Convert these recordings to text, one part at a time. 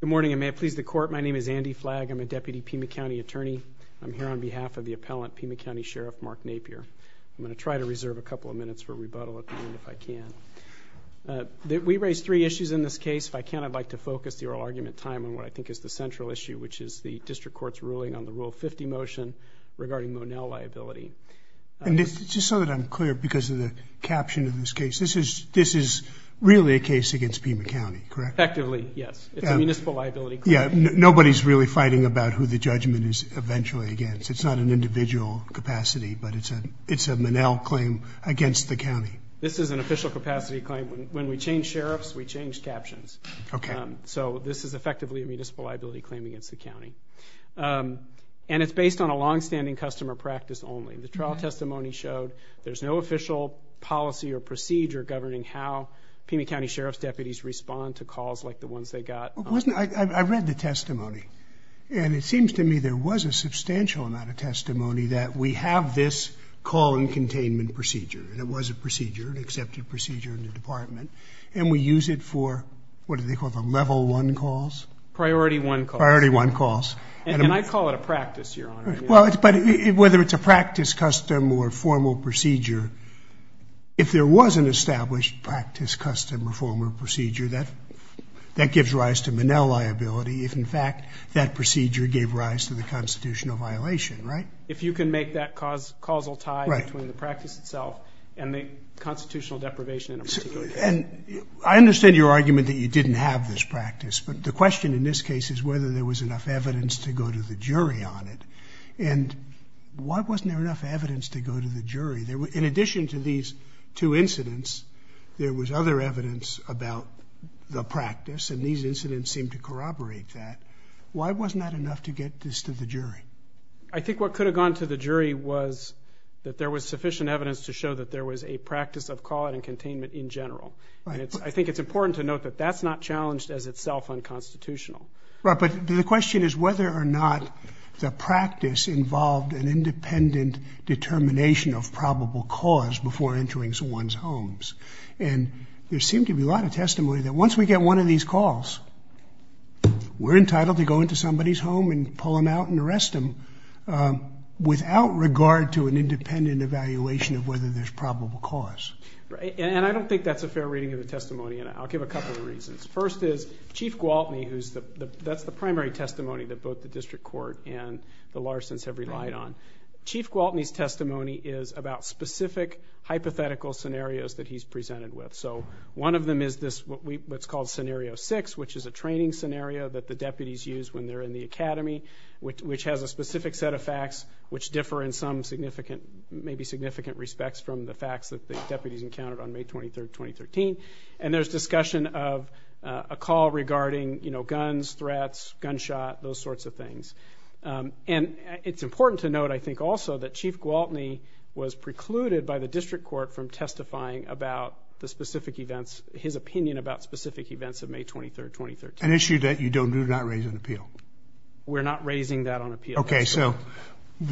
Good morning, and may it please the Court, my name is Andy Flagg. I'm a Deputy Pima County Attorney. I'm here on behalf of the appellant, Pima County Sheriff Mark Napier. I'm going to try to reserve a couple of minutes for rebuttal at the end if I can. We raised three issues in this case. If I can, I'd like to focus the oral argument time on what I think is the central issue, which is the District Court's ruling on the Rule 50 motion regarding Monell liability. And just so that I'm clear because of the time, this is really a case against Pima County, correct? Effectively, yes. It's a municipal liability claim. Yeah, nobody's really fighting about who the judgment is eventually against. It's not an individual capacity, but it's a Monell claim against the county. This is an official capacity claim. When we changed sheriffs, we changed captions. Okay. So this is effectively a municipal liability claim against the county. And it's based on a longstanding customer practice only. The trial testimony showed there's no official policy or procedure governing how Pima County Sheriff's deputies respond to calls like the ones they got. I read the testimony. And it seems to me there was a substantial amount of testimony that we have this call and containment procedure. And it was a procedure, an accepted procedure in the department. And we use it for, what do they call them, level one calls? Priority one calls. Priority one calls. And I call it a practice, Your Honor. Well, but whether it's a practice, custom, or formal procedure, if there was an established practice, custom, or formal procedure, that gives rise to Monell liability if, in fact, that procedure gave rise to the constitutional violation, right? If you can make that causal tie between the practice itself and the constitutional deprivation in a particular case. And I understand your argument that you didn't have this practice. But the question in this case is whether there was enough evidence to go to the jury on it. And why wasn't there enough evidence to go to the jury? In addition to these two incidents, there was other evidence about the practice. And these incidents seem to corroborate that. Why wasn't that enough to get this to the jury? I think what could have gone to the jury was that there was sufficient evidence to show that there was a practice of call and containment in general. Right. And I think it's important to note that that's not challenged as itself unconstitutional. Right. But the question is whether or not the practice involved an independent determination of probable cause before entering someone's homes. And there seemed to be a lot of testimony that once we get one of these calls, we're entitled to go into somebody's home and pull them out and arrest them without regard to an independent evaluation of whether there's probable cause. And I don't think that's a fair reading of the testimony. And I'll give a couple of reasons. First is Chief Gwaltney, that's the primary testimony that both the district court and the Larsons have relied on. Chief Gwaltney's testimony is about specific hypothetical scenarios that he's presented with. So one of them is what's called Scenario 6, which is a training scenario that the deputies use when they're in the academy, which has a specific set of opportunities encountered on May 23rd, 2013. And there's discussion of a call regarding guns, threats, gunshot, those sorts of things. And it's important to note, I think, also that Chief Gwaltney was precluded by the district court from testifying about the specific events, his opinion about specific events of May 23rd, 2013. An issue that you do not raise on appeal. We're not raising that on appeal. Okay. So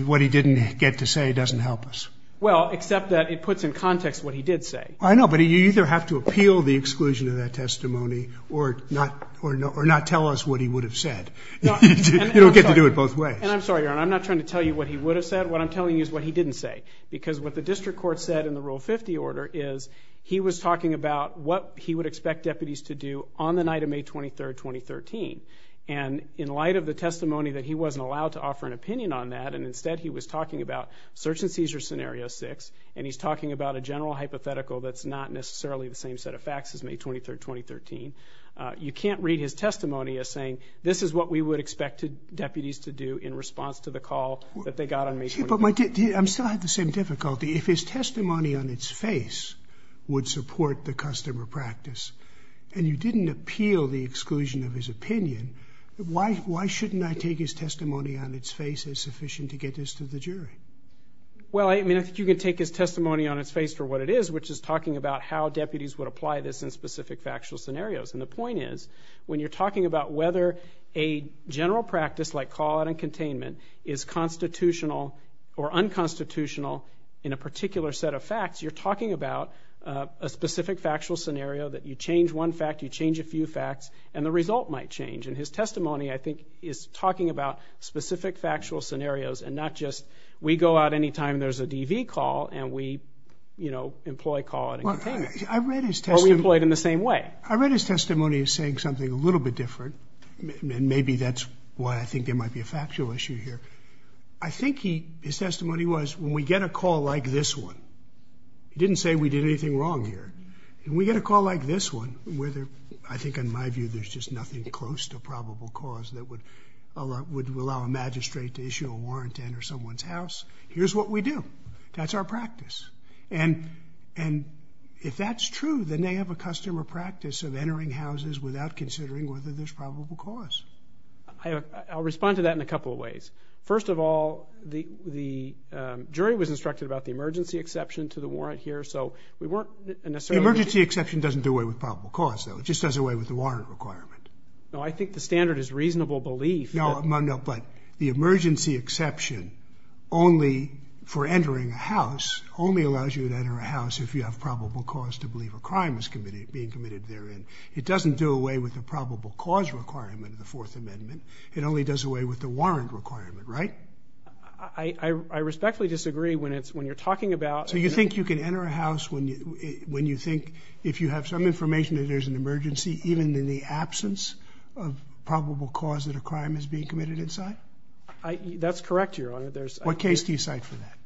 what he didn't get to say doesn't help us. Well, except that it puts in context what he did say. I know, but you either have to appeal the exclusion of that testimony or not tell us what he would have said. You don't get to do it both ways. And I'm sorry, Your Honor, I'm not trying to tell you what he would have said. What I'm telling you is what he didn't say. Because what the district court said in the Rule 50 order is he was talking about what he would expect deputies to do on the night of May 23rd, 2013. And in light of the testimony that he wasn't allowed to offer an opinion on that, and instead he was talking about search and seizure scenario 6, and he's talking about a general hypothetical that's not necessarily the same set of facts as May 23rd, 2013, you can't read his testimony as saying, this is what we would expect deputies to do in response to the call that they got on May 23rd, 2013. Yeah, but I'm still at the same difficulty. If his testimony on its face would support the customer practice, and you didn't appeal the exclusion of his opinion, why shouldn't I take his testimony on its face as sufficient to get this to the jury? Well, I mean, I think you can take his testimony on its face for what it is, which is talking about how deputies would apply this in specific factual scenarios. And the point is, when you're talking about whether a general practice like callout and containment is constitutional or unconstitutional in a particular set of facts, you're talking about a specific factual scenario that you change one fact, you change a few facts, and the result might change. And his testimony, I think, is talking about specific factual scenarios and not just, we go out any time there's a DV call and we, you know, employ callout and containment. Well, I read his testimony. Or we employ it in the same way. I read his testimony as saying something a little bit different, and maybe that's why I think there might be a factual issue here. I think he, his testimony was, when we get a call like this one, he didn't say we did anything wrong here. When we get a call like this one, whether, I think in my view, there's just nothing close to probable cause that would allow a magistrate to issue a warrant to enter someone's house, here's what we do. That's our practice. And if that's true, then they have a custom or practice of entering houses without considering whether there's probable cause. I'll respond to that in a couple of ways. First of all, the jury was instructed about the emergency exception to the warrant here, so we weren't necessarily... It doesn't do away with probable cause, though. It just does away with the warrant requirement. No, I think the standard is reasonable belief that... No, but the emergency exception only for entering a house only allows you to enter a house if you have probable cause to believe a crime is committed, being committed therein. It doesn't do away with the probable cause requirement of the Fourth Amendment. It only does away with the warrant requirement, right? I respectfully disagree when it's, when you're talking about... So you think you can enter a house when you think, if you have some information that there's an emergency, even in the absence of probable cause that a crime is being committed inside? That's correct, Your Honor. What case do you cite for that?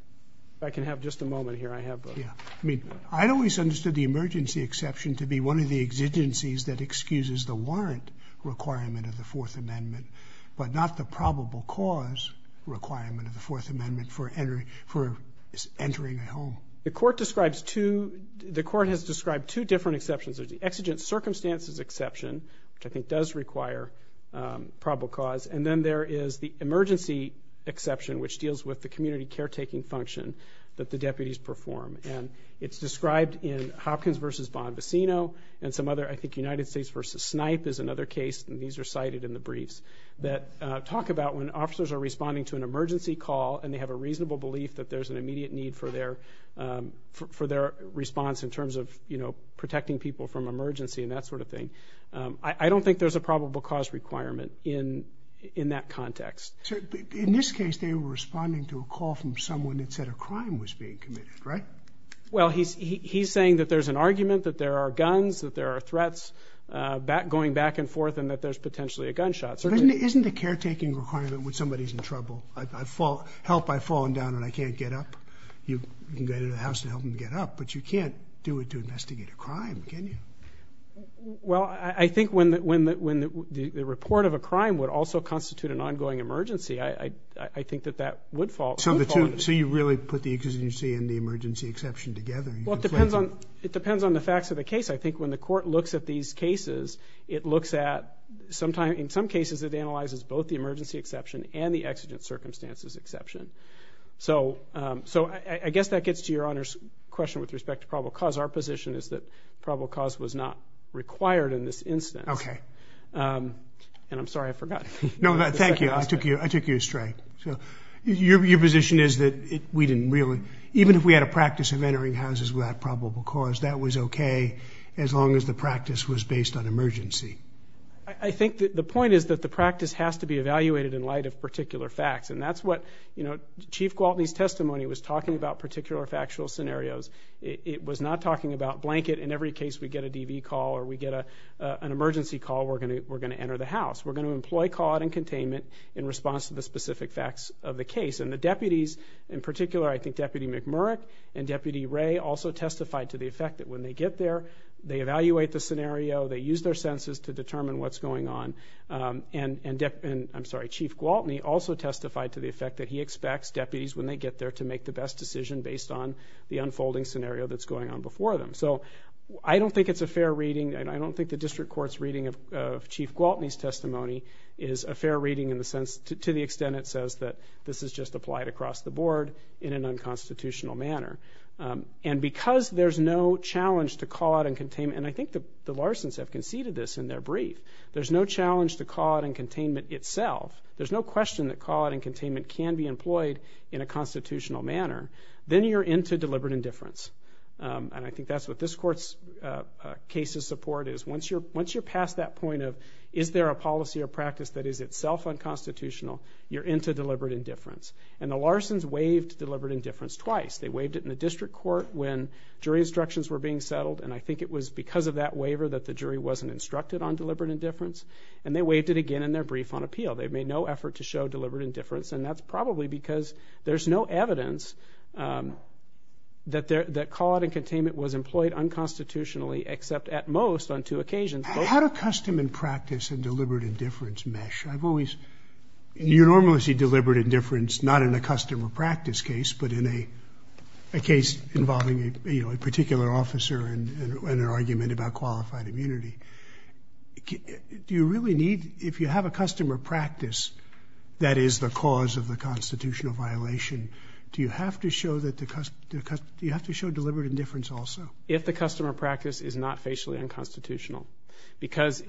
I can have just a moment here. I have a... Yeah. I mean, I'd always understood the emergency exception to be one of the exigencies that excuses the warrant requirement of the Fourth Amendment, but not the probable cause requirement of the Fourth Amendment for entering a home. The court describes two... The court has described two different exceptions. There's the exigent circumstances exception, which I think does require probable cause, and then there is the emergency exception, which deals with the community caretaking function that the deputies perform. And it's described in Hopkins v. Bonvicino and some other, I think United States v. Snipe is another case, and these are cited in the briefs, that talk about when to call, and they have a reasonable belief that there's an immediate need for their response in terms of, you know, protecting people from emergency and that sort of thing. I don't think there's a probable cause requirement in that context. In this case, they were responding to a call from someone that said a crime was being committed, right? Well, he's saying that there's an argument that there are guns, that there are threats going back and forth, and that there's potentially a gunshot. But isn't the caretaking requirement when somebody's in trouble? Help, I've fallen down and I can't get up. You can go to the house to help them get up, but you can't do it to investigate a crime, can you? Well, I think when the report of a crime would also constitute an ongoing emergency, I think that that would fall under... So you really put the exigent and the emergency exception together? It depends on the facts of the case. I think when the court looks at these cases, it looks at, in some cases, it analyzes both the emergency exception and the exigent circumstances exception. So I guess that gets to Your Honor's question with respect to probable cause. Our position is that probable cause was not required in this instance. Okay. And I'm sorry, I forgot. No, thank you. I took you astray. So your position is that we didn't really... Even if we had a practice of entering houses without probable cause, that was okay as long as the I think that the point is that the practice has to be evaluated in light of particular facts. And that's what Chief Gwaltney's testimony was talking about particular factual scenarios. It was not talking about blanket, in every case we get a DV call or we get an emergency call, we're going to enter the house. We're going to employ caught and containment in response to the specific facts of the case. And the deputies, in particular, I think Deputy McMurrick and Deputy Ray also testified to the effect that when they get there, they evaluate the scenario, they use their senses to determine what's going on. And I'm sorry, Chief Gwaltney also testified to the effect that he expects deputies when they get there to make the best decision based on the unfolding scenario that's going on before them. So I don't think it's a fair reading and I don't think the district court's reading of Chief Gwaltney's testimony is a fair reading in the sense to the extent it says that this is just applied across the board in an unconstitutional manner. And because there's no challenge to their brief, there's no challenge to caught and containment itself, there's no question that caught and containment can be employed in a constitutional manner, then you're into deliberate indifference. And I think that's what this court's case of support is. Once you're past that point of is there a policy or practice that is itself unconstitutional, you're into deliberate indifference. And the Larsons waived deliberate indifference twice. They waived it in the district court when jury instructions were being settled and I think it was because of that waiver that the jury wasn't instructed on deliberate indifference and they waived it again in their brief on appeal. They made no effort to show deliberate indifference and that's probably because there's no evidence that caught and containment was employed unconstitutionally except at most on two occasions. How do custom and practice and deliberate indifference mesh? I've always, you normally see deliberate indifference not in a custom or practice case but in a case involving a particular officer and an argument about qualified immunity. Do you really need, if you have a custom or practice that is the cause of the constitutional violation, do you have to show deliberate indifference also? If the custom or practice is not facially unconstitutional. Because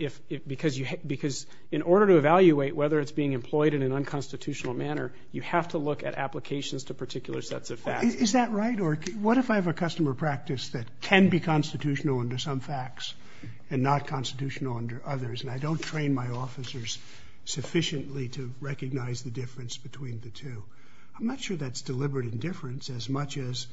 in order to evaluate whether it's being employed in an unconstitutional manner, you have to look at applications to particular sets of facts. Is that right? Or what if I have a custom or practice that can be constitutional under some facts and not constitutional under others and I don't train my officers sufficiently to recognize the difference between the two? I'm not sure that's deliberate indifference as much as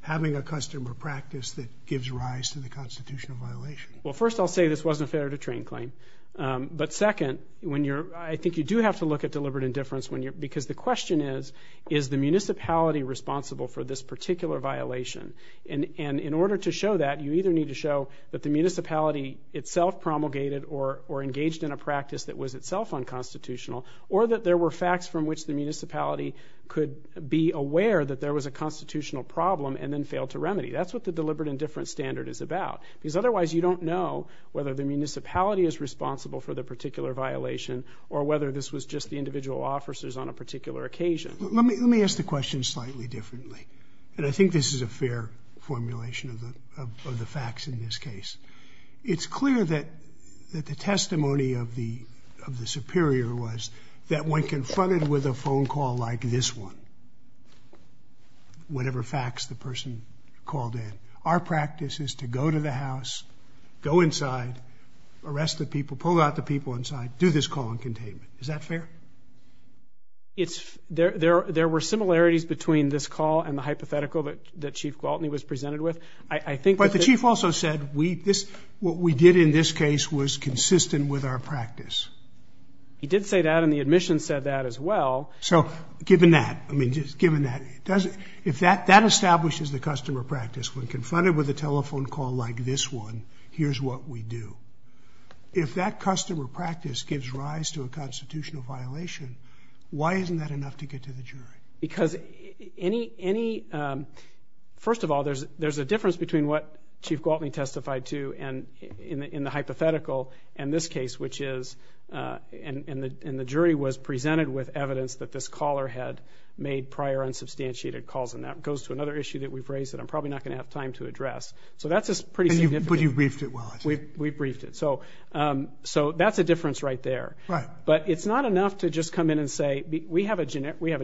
having a custom or practice that gives rise to the constitutional violation. Well, first I'll say this wasn't a fair to train claim. But second, when you're, I think you do have to look at deliberate indifference when you're, because the question is, is the municipality responsible for this particular violation? And in order to show that, you either need to show that the municipality itself promulgated or engaged in a practice that was itself unconstitutional, or that there were facts from which the municipality could be aware that there was a constitutional problem and then failed to remedy. That's what the deliberate indifference standard is about. Because otherwise you don't know whether the municipality is responsible for the particular violation or whether this was just the individual officers on a particular occasion. Let me ask the question slightly differently. And I think this is a fair formulation of the facts in this case. It's clear that the testimony of the Superior was that when confronted with a phone call like this one, whatever facts the person called in, our practice is to go to the house, go inside, arrest the people, pull out the people inside, do this call in containment. Is that fair? There were similarities between this call and the hypothetical that Chief Gwaltney was presented with. I think that... But the Chief also said what we did in this case was consistent with our practice. He did say that and the admissions said that as well. So given that, I mean, just given that, if that establishes the customer practice when confronted with a telephone call like this one, here's what we do. If that customer practice gives rise to a constitutional violation, why isn't that enough to get to the jury? Because any... First of all, there's a difference between what Chief Gwaltney testified to in the hypothetical and this case, which is... And the jury was presented with evidence that this caller had made prior unsubstantiated calls. And that goes to another issue that we've raised that I'm probably not going to have time to address. So that's pretty significant. But you've briefed it well, I see. We've briefed it. So that's a difference right there. But it's not enough to just come in and say, we have a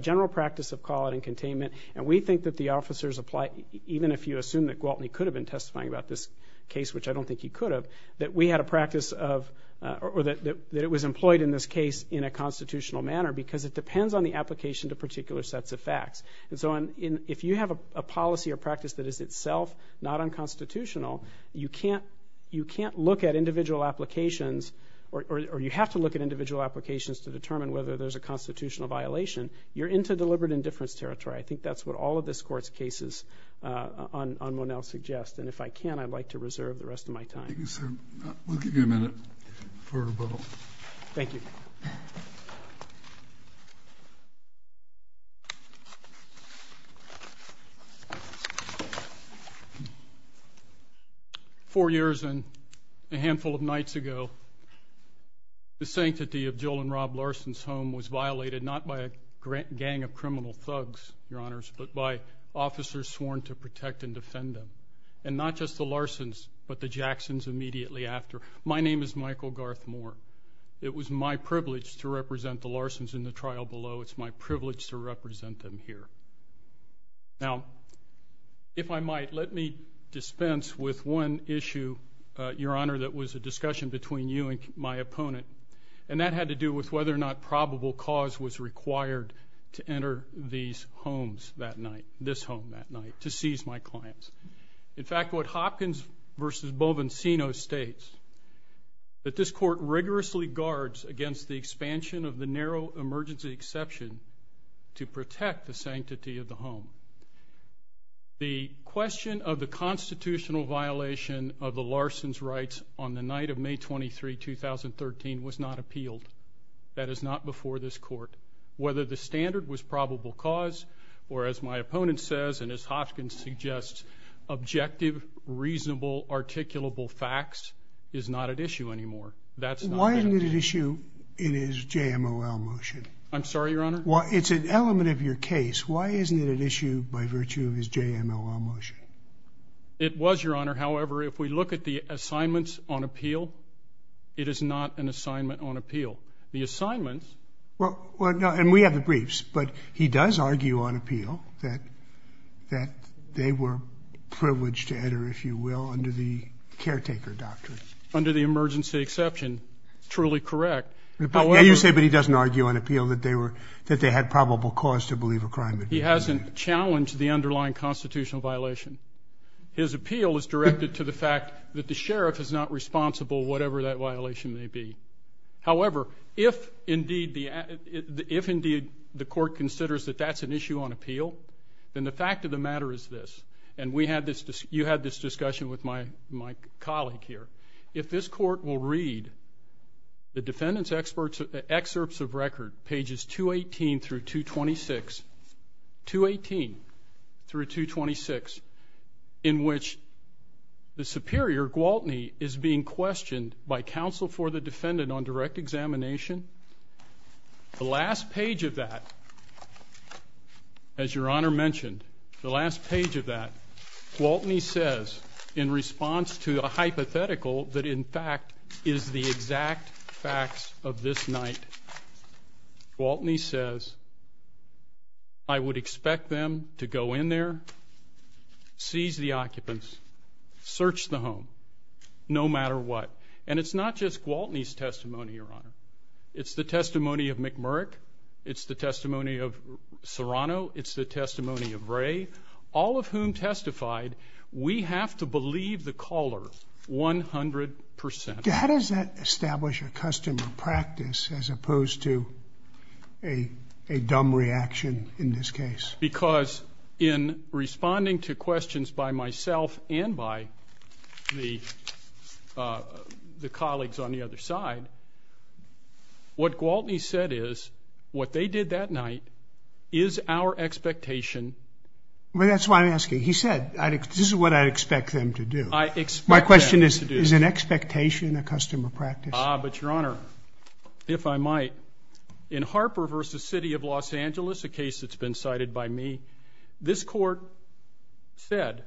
general practice of call and containment and we think that the officers apply... Even if you assume that Gwaltney could have been testifying about this case, which I don't think he could have, that we had a practice of... Or that it was employed in this case in a constitutional manner because it depends on the application to particular sets of facts. And so if you have a policy or practice that is itself not unconstitutional, you can't look at individual applications or you have to look at individual applications to determine whether there's a constitutional violation, you're into deliberate indifference territory. I think that's what all of this court's cases on Monell suggest. And if I can, I'd like to reserve the rest of my time. Thank you, sir. We'll give you a minute for rebuttal. Thank you. Four years and a handful of nights ago, the sanctity of Jill and Rob Larson's home was violated not by a gang of criminal thugs, your honors, but by officers sworn to protect and defend them. And not just the Larson's, but the Jackson's immediately after. My name is Michael Garth Moore. It was my privilege to represent the Larson's in the trial below. It's my privilege to represent them here. Now, if I might, let me dispense with one issue, your honor, that was a discussion between you and my opponent. And that had to do with whether or not probable cause was required to enter these homes that night, this home that night, to seize my clients. In fact, what Hopkins v. Bovencino states, that this court rigorously guards against the expansion of the narrow emergency exception to protect the sanctity of the home. The question of the constitutional violation of the Larson's rights on the night of May 23, 2013, was not appealed. That is not before this court. Whether the standard was probable cause, or as my opponent says, and as Hopkins suggests, objective, reasonable, articulable facts is not at issue anymore. Why isn't it at issue in his JMOL motion? I'm sorry, your honor? It's an element of your case. Why isn't it at issue by virtue of his JMOL motion? It was, your honor. However, if we look at the assignments on appeal, it is not an assignment on appeal. The assignments... And we have the briefs, but he does argue on appeal that they were privileged to enter, if you will, under the caretaker doctrine. Under the emergency exception, truly correct. Yeah, you say, but he doesn't argue on appeal that they had probable cause to believe a crime had been committed. He hasn't challenged the underlying constitutional violation. His appeal is directed to the fact that the sheriff is not responsible, whatever that violation may be. However, if indeed the court considers that that's an issue on appeal, then the fact of the matter is this, and you had this discussion with my colleague here, if this court will read the defendant's excerpts of record, pages 218 through 226, in which the superior, Gwaltney, is being questioned by counsel for the defendant on direct examination, the last page of that, as your honor mentioned, the last page of that, Gwaltney says, in response to a hypothetical that in fact is the exact facts of this night, Gwaltney says, I would expect them to go in there, seize the occupants, search the home, no matter what. And it's not just Gwaltney's testimony, your honor. It's the testimony of McMurrick, it's the testimony of Serrano, it's the testimony of Ray, all of whom testified, we have to believe the caller 100%. How does that establish a custom of practice as opposed to a dumb reaction in this case? Because in responding to questions by myself and by the colleagues on the other side, what Gwaltney said is, what they did that night is our expectation. Well, that's why I'm asking. He said, this is what I'd expect them to do. I expect them to do this. My question is, is an expectation a custom of practice? Ah, but your honor, if I might, in Harper v. City of Los Angeles, a case that's been decided by me, this court said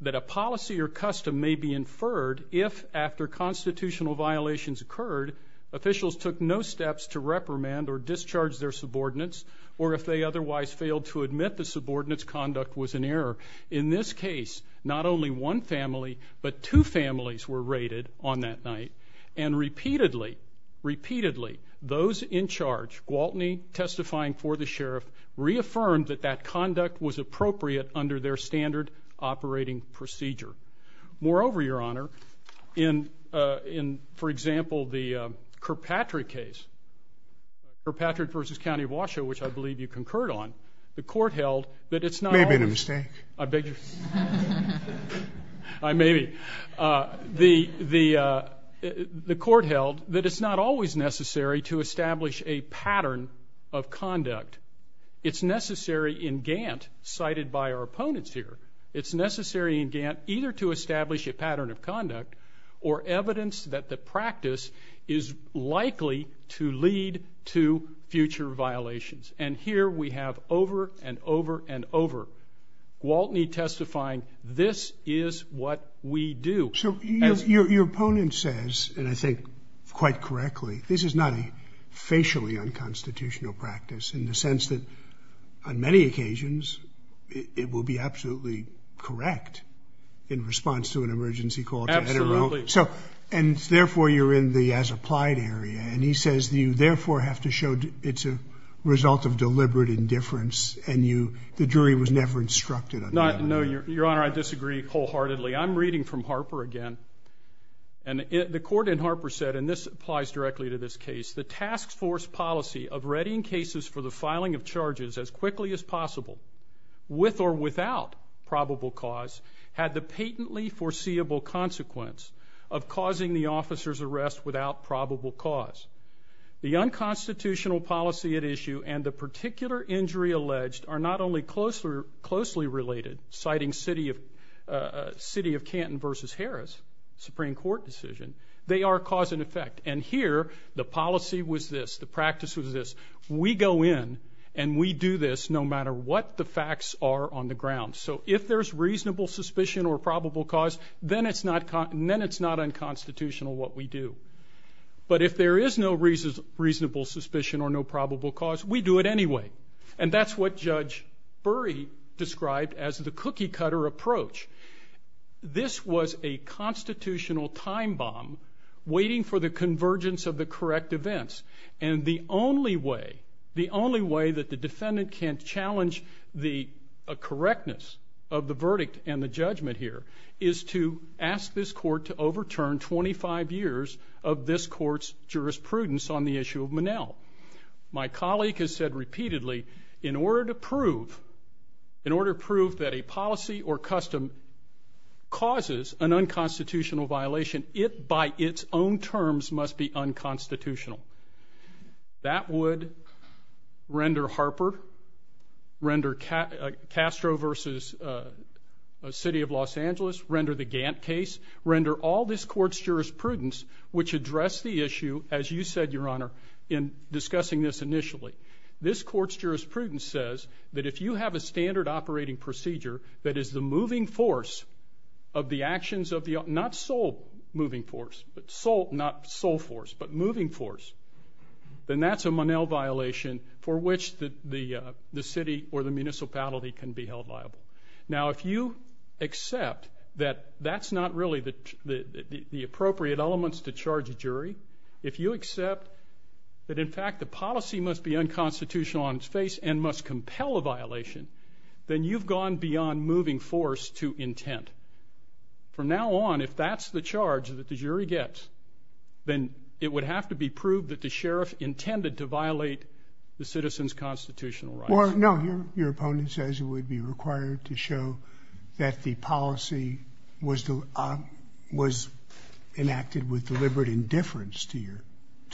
that a policy or custom may be inferred if, after constitutional violations occurred, officials took no steps to reprimand or discharge their subordinates, or if they otherwise failed to admit the subordinates' conduct was an error. In this case, not only one family, but two families were raided on that night. And repeatedly, repeatedly, those in charge, Gwaltney testifying for the sheriff, reaffirmed that that conduct was appropriate under their standard operating procedure. Moreover, your honor, in, for example, the Kirkpatrick case, Kirkpatrick v. County of Washoe, which I believe you concurred on, the court held that it's not only- May have been a mistake. I beg your- I may be. The court held that it's not always necessary to establish a pattern of conduct. It's necessary in Gantt, cited by our opponents here, it's necessary in Gantt either to establish a pattern of conduct or evidence that the practice is likely to lead to future violations. And here we have, over and over and over, Gwaltney testifying, this is what we do. So your opponent says, and I think quite correctly, this is not a facially unconstitutional practice in the sense that, on many occasions, it will be absolutely correct in response to an emergency call to NRO. Absolutely. So, and therefore you're in the as-applied area, and he says that you therefore have to show it's a result of deliberate indifference, and you, the jury was never instructed on that. No, your honor, I disagree wholeheartedly. I'm reading from Harper again, and the court in Harper said, and this applies directly to this case, the task force policy of readying cases for the filing of charges as quickly as possible, with or without probable cause, had the patently foreseeable consequence of causing the officer's arrest without probable cause. The unconstitutional policy at issue and the particular injury alleged are not only closely related, citing City of Canton v. Harris Supreme Court decision, they are cause and effect. And here, the policy was this, the practice was this, we go in and we do this no matter what the facts are on the ground. So if there's reasonable suspicion or probable cause, then it's not unconstitutional what we do. But if there is no reasonable suspicion or no probable cause, we do it anyway. And that's what Judge Burry described as the cookie-cutter approach. This was a constitutional time bomb waiting for the convergence of the correct events. And the only way, the only way that the defendant can challenge the correctness of the verdict and the judgment here is to ask this court to overturn 25 years of this court's jurisprudence on the issue of Monell. My colleague has said repeatedly, in order to prove, in order to prove that a policy or custom causes an unconstitutional violation, it by its own terms must be unconstitutional. That would render Harper, render Castro v. City of Los Angeles, render the Gantt case, render all this court's jurisprudence which address the issue, as you said, Your Honor, in discussing this initially. This court's jurisprudence says that if you have a standard operating procedure that is the moving force of the actions of the, not sole moving force, not sole force, but moving force, then that's a Monell violation for which the city or the municipality can be held liable. Now, if you accept that that's not really the appropriate elements to charge a jury, if you accept that in fact the policy must be unconstitutional on its face and must compel a violation, then you've gone beyond moving force to intent. From now on, if that's the charge that the jury gets, then it would have to be proved that the sheriff intended to violate the citizen's constitutional rights. Or, no, your opponent says it would be required to show that the policy was enacted with deliberate indifference to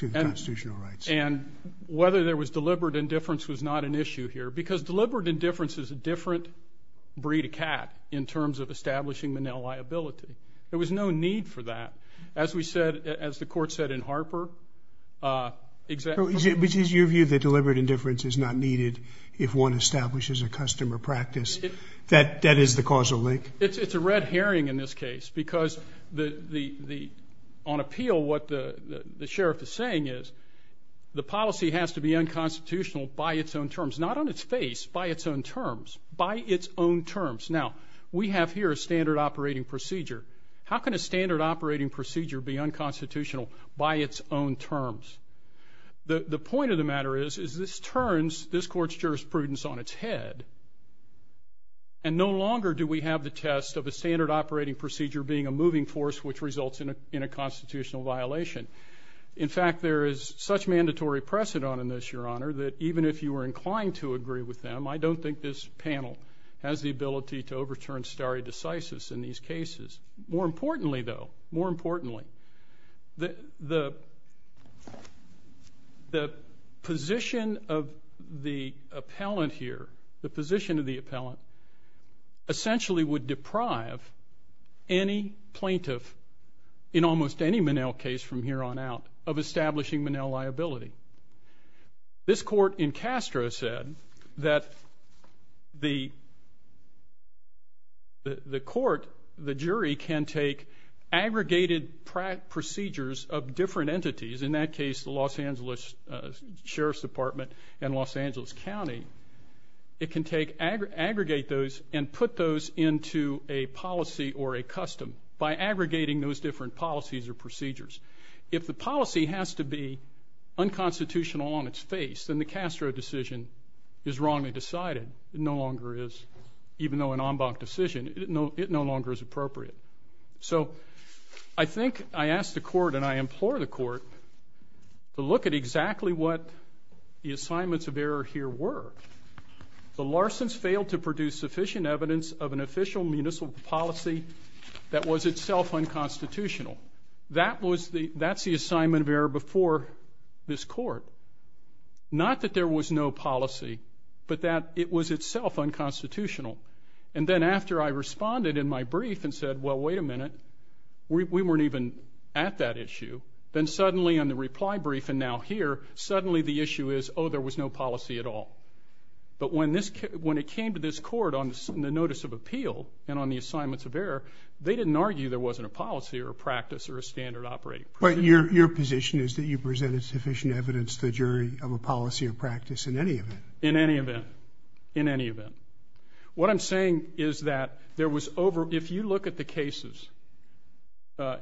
the constitutional rights. And whether there was deliberate indifference was not an issue here, because deliberate indifference is a different breed of cat in terms of establishing the Monell liability. There was no need for that. As we said, as the court said in Harper, exactly... But is your view that deliberate indifference is not needed if one establishes a customer practice that is the causal link? It's a red herring in this case, because on appeal what the sheriff is saying is the policy has to be unconstitutional by its own terms. Not on its face, by its own terms. By its own terms. Now, we have here a standard operating procedure. How can a standard operating procedure be unconstitutional by its own terms? The point of the matter is, is this turns this court's jurisprudence on its head. And no longer do we have the test of a standard operating procedure being a moving force which results in a constitutional violation. In fact, there is such mandatory precedent on this, your honor, that even if you were inclined to agree with them, I don't think this panel has the ability to overturn stare decisis in these cases. More importantly though, more importantly, the position of the appellant here, the position of the appellant, essentially would deprive any plaintiff, in almost any Monell case from here on out, of establishing Monell liability. This court in Castro said that the court, the jury, can take aggregated procedures of different entities, in that case the Los Angeles Sheriff's Department and Los Angeles County, it can aggregate those and put those into a policy or a custom by aggregating those different policies or procedures. If the policy has to be unconstitutional on its face, then the Castro decision is wrongly decided. It no longer is, even though an en banc decision, it no longer is appropriate. So I think I ask the court and I implore the court to look at exactly what the assignments of error here were. The Larsons failed to produce sufficient evidence of an official municipal policy that was itself unconstitutional. That's the assignment of error before this court. Not that there was no policy, but that it was itself unconstitutional. And then after I responded in my brief and said, well, wait a minute, we weren't even at that issue, then suddenly on the reply brief and now here, suddenly the issue is, oh, there was no policy at all. But when it came to this court on the notice of appeal and on the assignments of error, they didn't argue there wasn't a policy or a practice or a standard operating procedure. But your position is that you presented sufficient evidence to the jury of a policy or practice in any event. In any event. In any event. What I'm saying is that there was over, if you look at the cases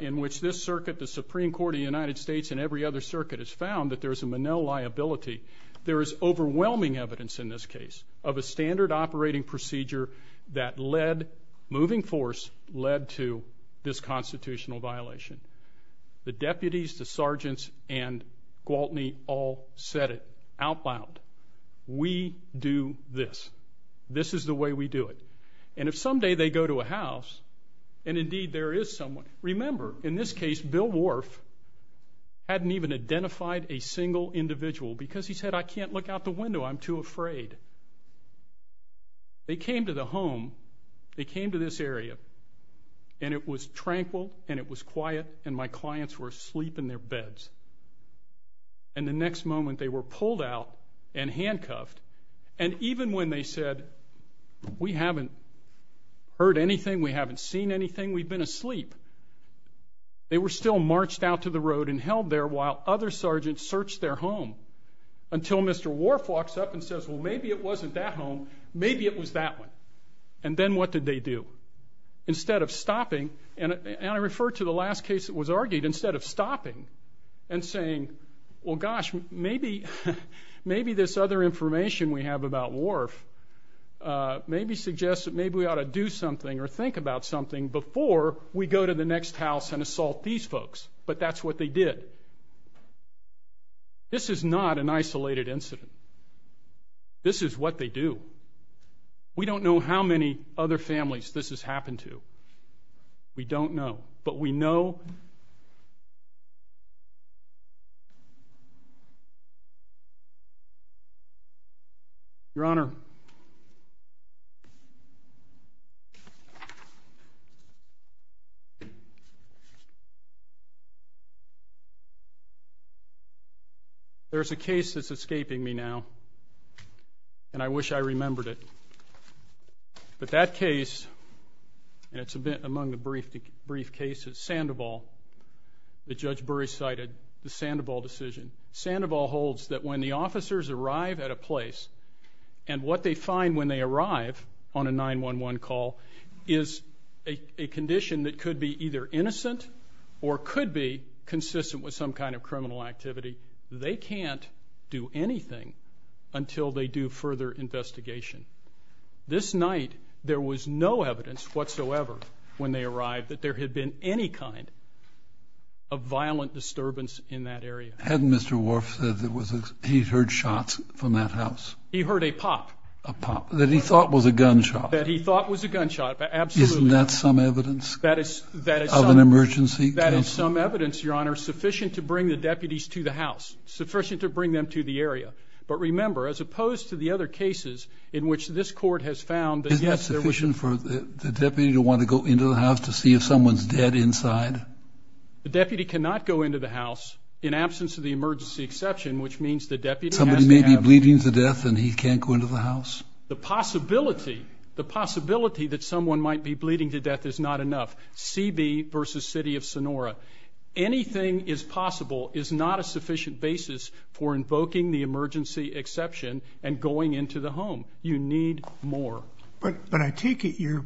in which this circuit, the Supreme Court of the United States and every other circuit has found that there's a Monell liability, there is overwhelming evidence in this case of a standard operating procedure that led, moving force, led to this constitutional violation. The deputies, the sergeants, and Gwaltney all said it out loud. We do this. This is the way we do it. And if someday they go to a house, and indeed there is someone, remember, in this case, Bill Wharf hadn't even identified a single individual because he said, I can't look out the window. I'm too afraid. They came to the home, they came to this area, and it was tranquil and it was quiet and my clients were asleep in their beds. And the next moment they were pulled out and handcuffed. And even when they said, we haven't heard anything, we haven't seen anything, we've been asleep, they were still marched out to the road and held there while other sergeants searched their home until Mr. Wharf walks up and says, well, maybe it wasn't that home. Maybe it was that one. And then what did they do? Instead of stopping, and I refer to the last case that was argued, instead of stopping and saying, well, gosh, maybe this other information we have about Wharf maybe suggests that maybe we ought to do something or think about something before we go to the next house and assault these folks. But that's what they did. This is not an isolated incident. This is what they do. We don't know how many other families this has happened to. We don't know. But we know. Your Honor, there's a case that's escaping me now. And I wish I remembered it. But that case, and it's among the brief cases, Sandoval, that Judge Burry cited, the Sandoval decision. Sandoval holds that when the officers arrive at a place and what they find when they arrive on a 911 call is a condition that could be either innocent or could be consistent with some kind of criminal activity. They can't do anything until they do further investigation. This night, there was no evidence whatsoever when they arrived that there had been any kind of violent disturbance in that area. Hadn't Mr. Wharf said that he heard shots from that house? He heard a pop. A pop that he thought was a gunshot. That he thought was a gunshot. Absolutely. Isn't that some evidence of an emergency? That is some evidence, Your Honor, sufficient to bring the deputies to the house, sufficient to bring them to the area. But remember, as opposed to the other cases in which this court has found that, yes, there to see if someone's dead inside? The deputy cannot go into the house in absence of the emergency exception, which means the deputy has to have... Somebody may be bleeding to death and he can't go into the house? The possibility, the possibility that someone might be bleeding to death is not enough. CB versus City of Sonora. Anything is possible is not a sufficient basis for invoking the emergency exception and going into the home. You need more. But I take it your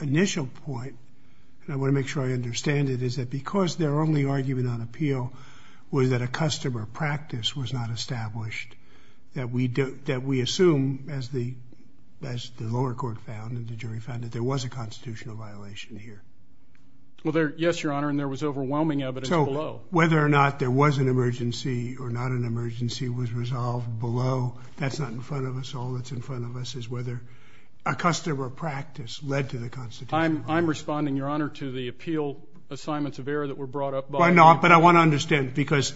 initial point, and I want to make sure I understand it, is that because their only argument on appeal was that a customer practice was not established, that we assume, as the lower court found and the jury found, that there was a constitutional violation here. Well, yes, Your Honor, and there was overwhelming evidence below. Whether or not there was an emergency or not an emergency was resolved below. That's not in front of us. All that's in front of us is whether a customer practice led to the constitutional violation. I'm responding, Your Honor, to the appeal assignments of error that were brought up by... Why not? But I want to understand, because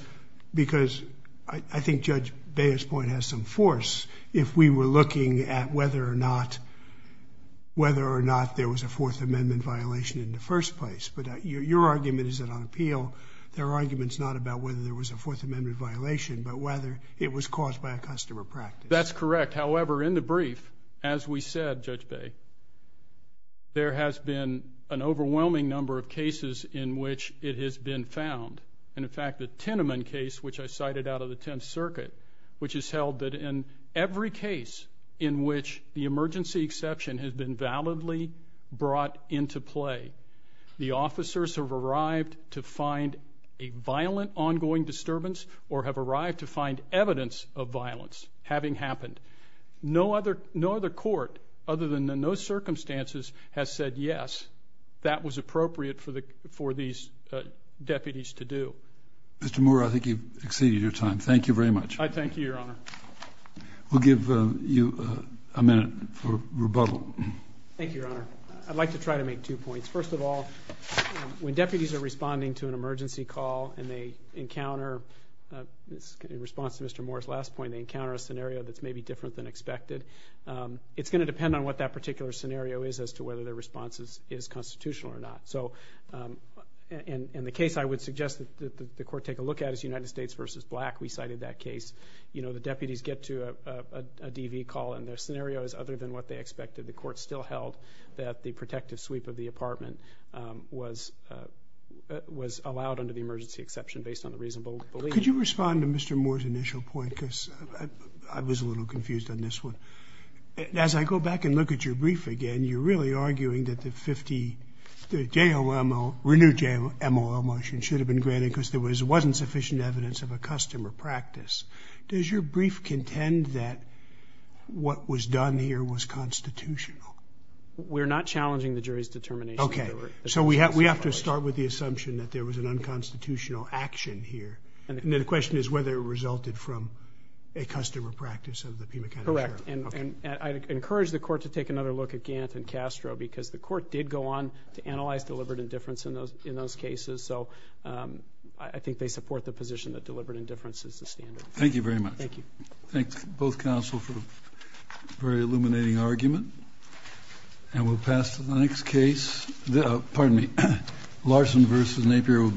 I think Judge Baez's point has some force, if we were looking at whether or not there was a Fourth Amendment violation in the first place. But your argument is that on appeal, there are arguments not about whether there was a Fourth Amendment violation, but whether it was caused by a customer practice. That's correct. However, in the brief, as we said, Judge Baez, there has been an overwhelming number of cases in which it has been found. And, in fact, the Teneman case, which I cited out of the Tenth Circuit, which has held that in every case in which the emergency exception has been validly brought into play, the officers have arrived to find a violent ongoing disturbance or have arrived to find evidence of violence having happened. No other court, other than in those circumstances, has said, yes, that was appropriate for these deputies to do. Mr. Moore, I think you've exceeded your time. Thank you very much. I thank you, Your Honor. We'll give you a minute for rebuttal. Thank you, Your Honor. I'd like to try to make two points. First of all, when deputies are responding to an emergency call and they encounter, in particular, a scenario that's maybe different than expected, it's going to depend on what that particular scenario is as to whether their response is constitutional or not. In the case I would suggest that the court take a look at is United States v. Black. We cited that case. You know, the deputies get to a DV call and their scenario is other than what they expected. The court still held that the protective sweep of the apartment was allowed under the emergency exception based on the reasonable belief. Could you respond to Mr. Moore's initial point, because I was a little confused on this one? As I go back and look at your brief again, you're really arguing that the 50, the JOMO, renewed JOMO motion should have been granted because there wasn't sufficient evidence of a customer practice. Does your brief contend that what was done here was constitutional? We're not challenging the jury's determination. Okay. So we have to start with the assumption that there was an unconstitutional action here. And then the question is whether it resulted from a customer practice of the Pima County Sheriff. Correct. And I'd encourage the court to take another look at Gant and Castro, because the court did go on to analyze deliberate indifference in those cases. So I think they support the position that deliberate indifference is the standard. Thank you very much. Thank you. Thank both counsel for a very illuminating argument. And we'll pass to the next case. Pardon me. Larson v. Napier will be.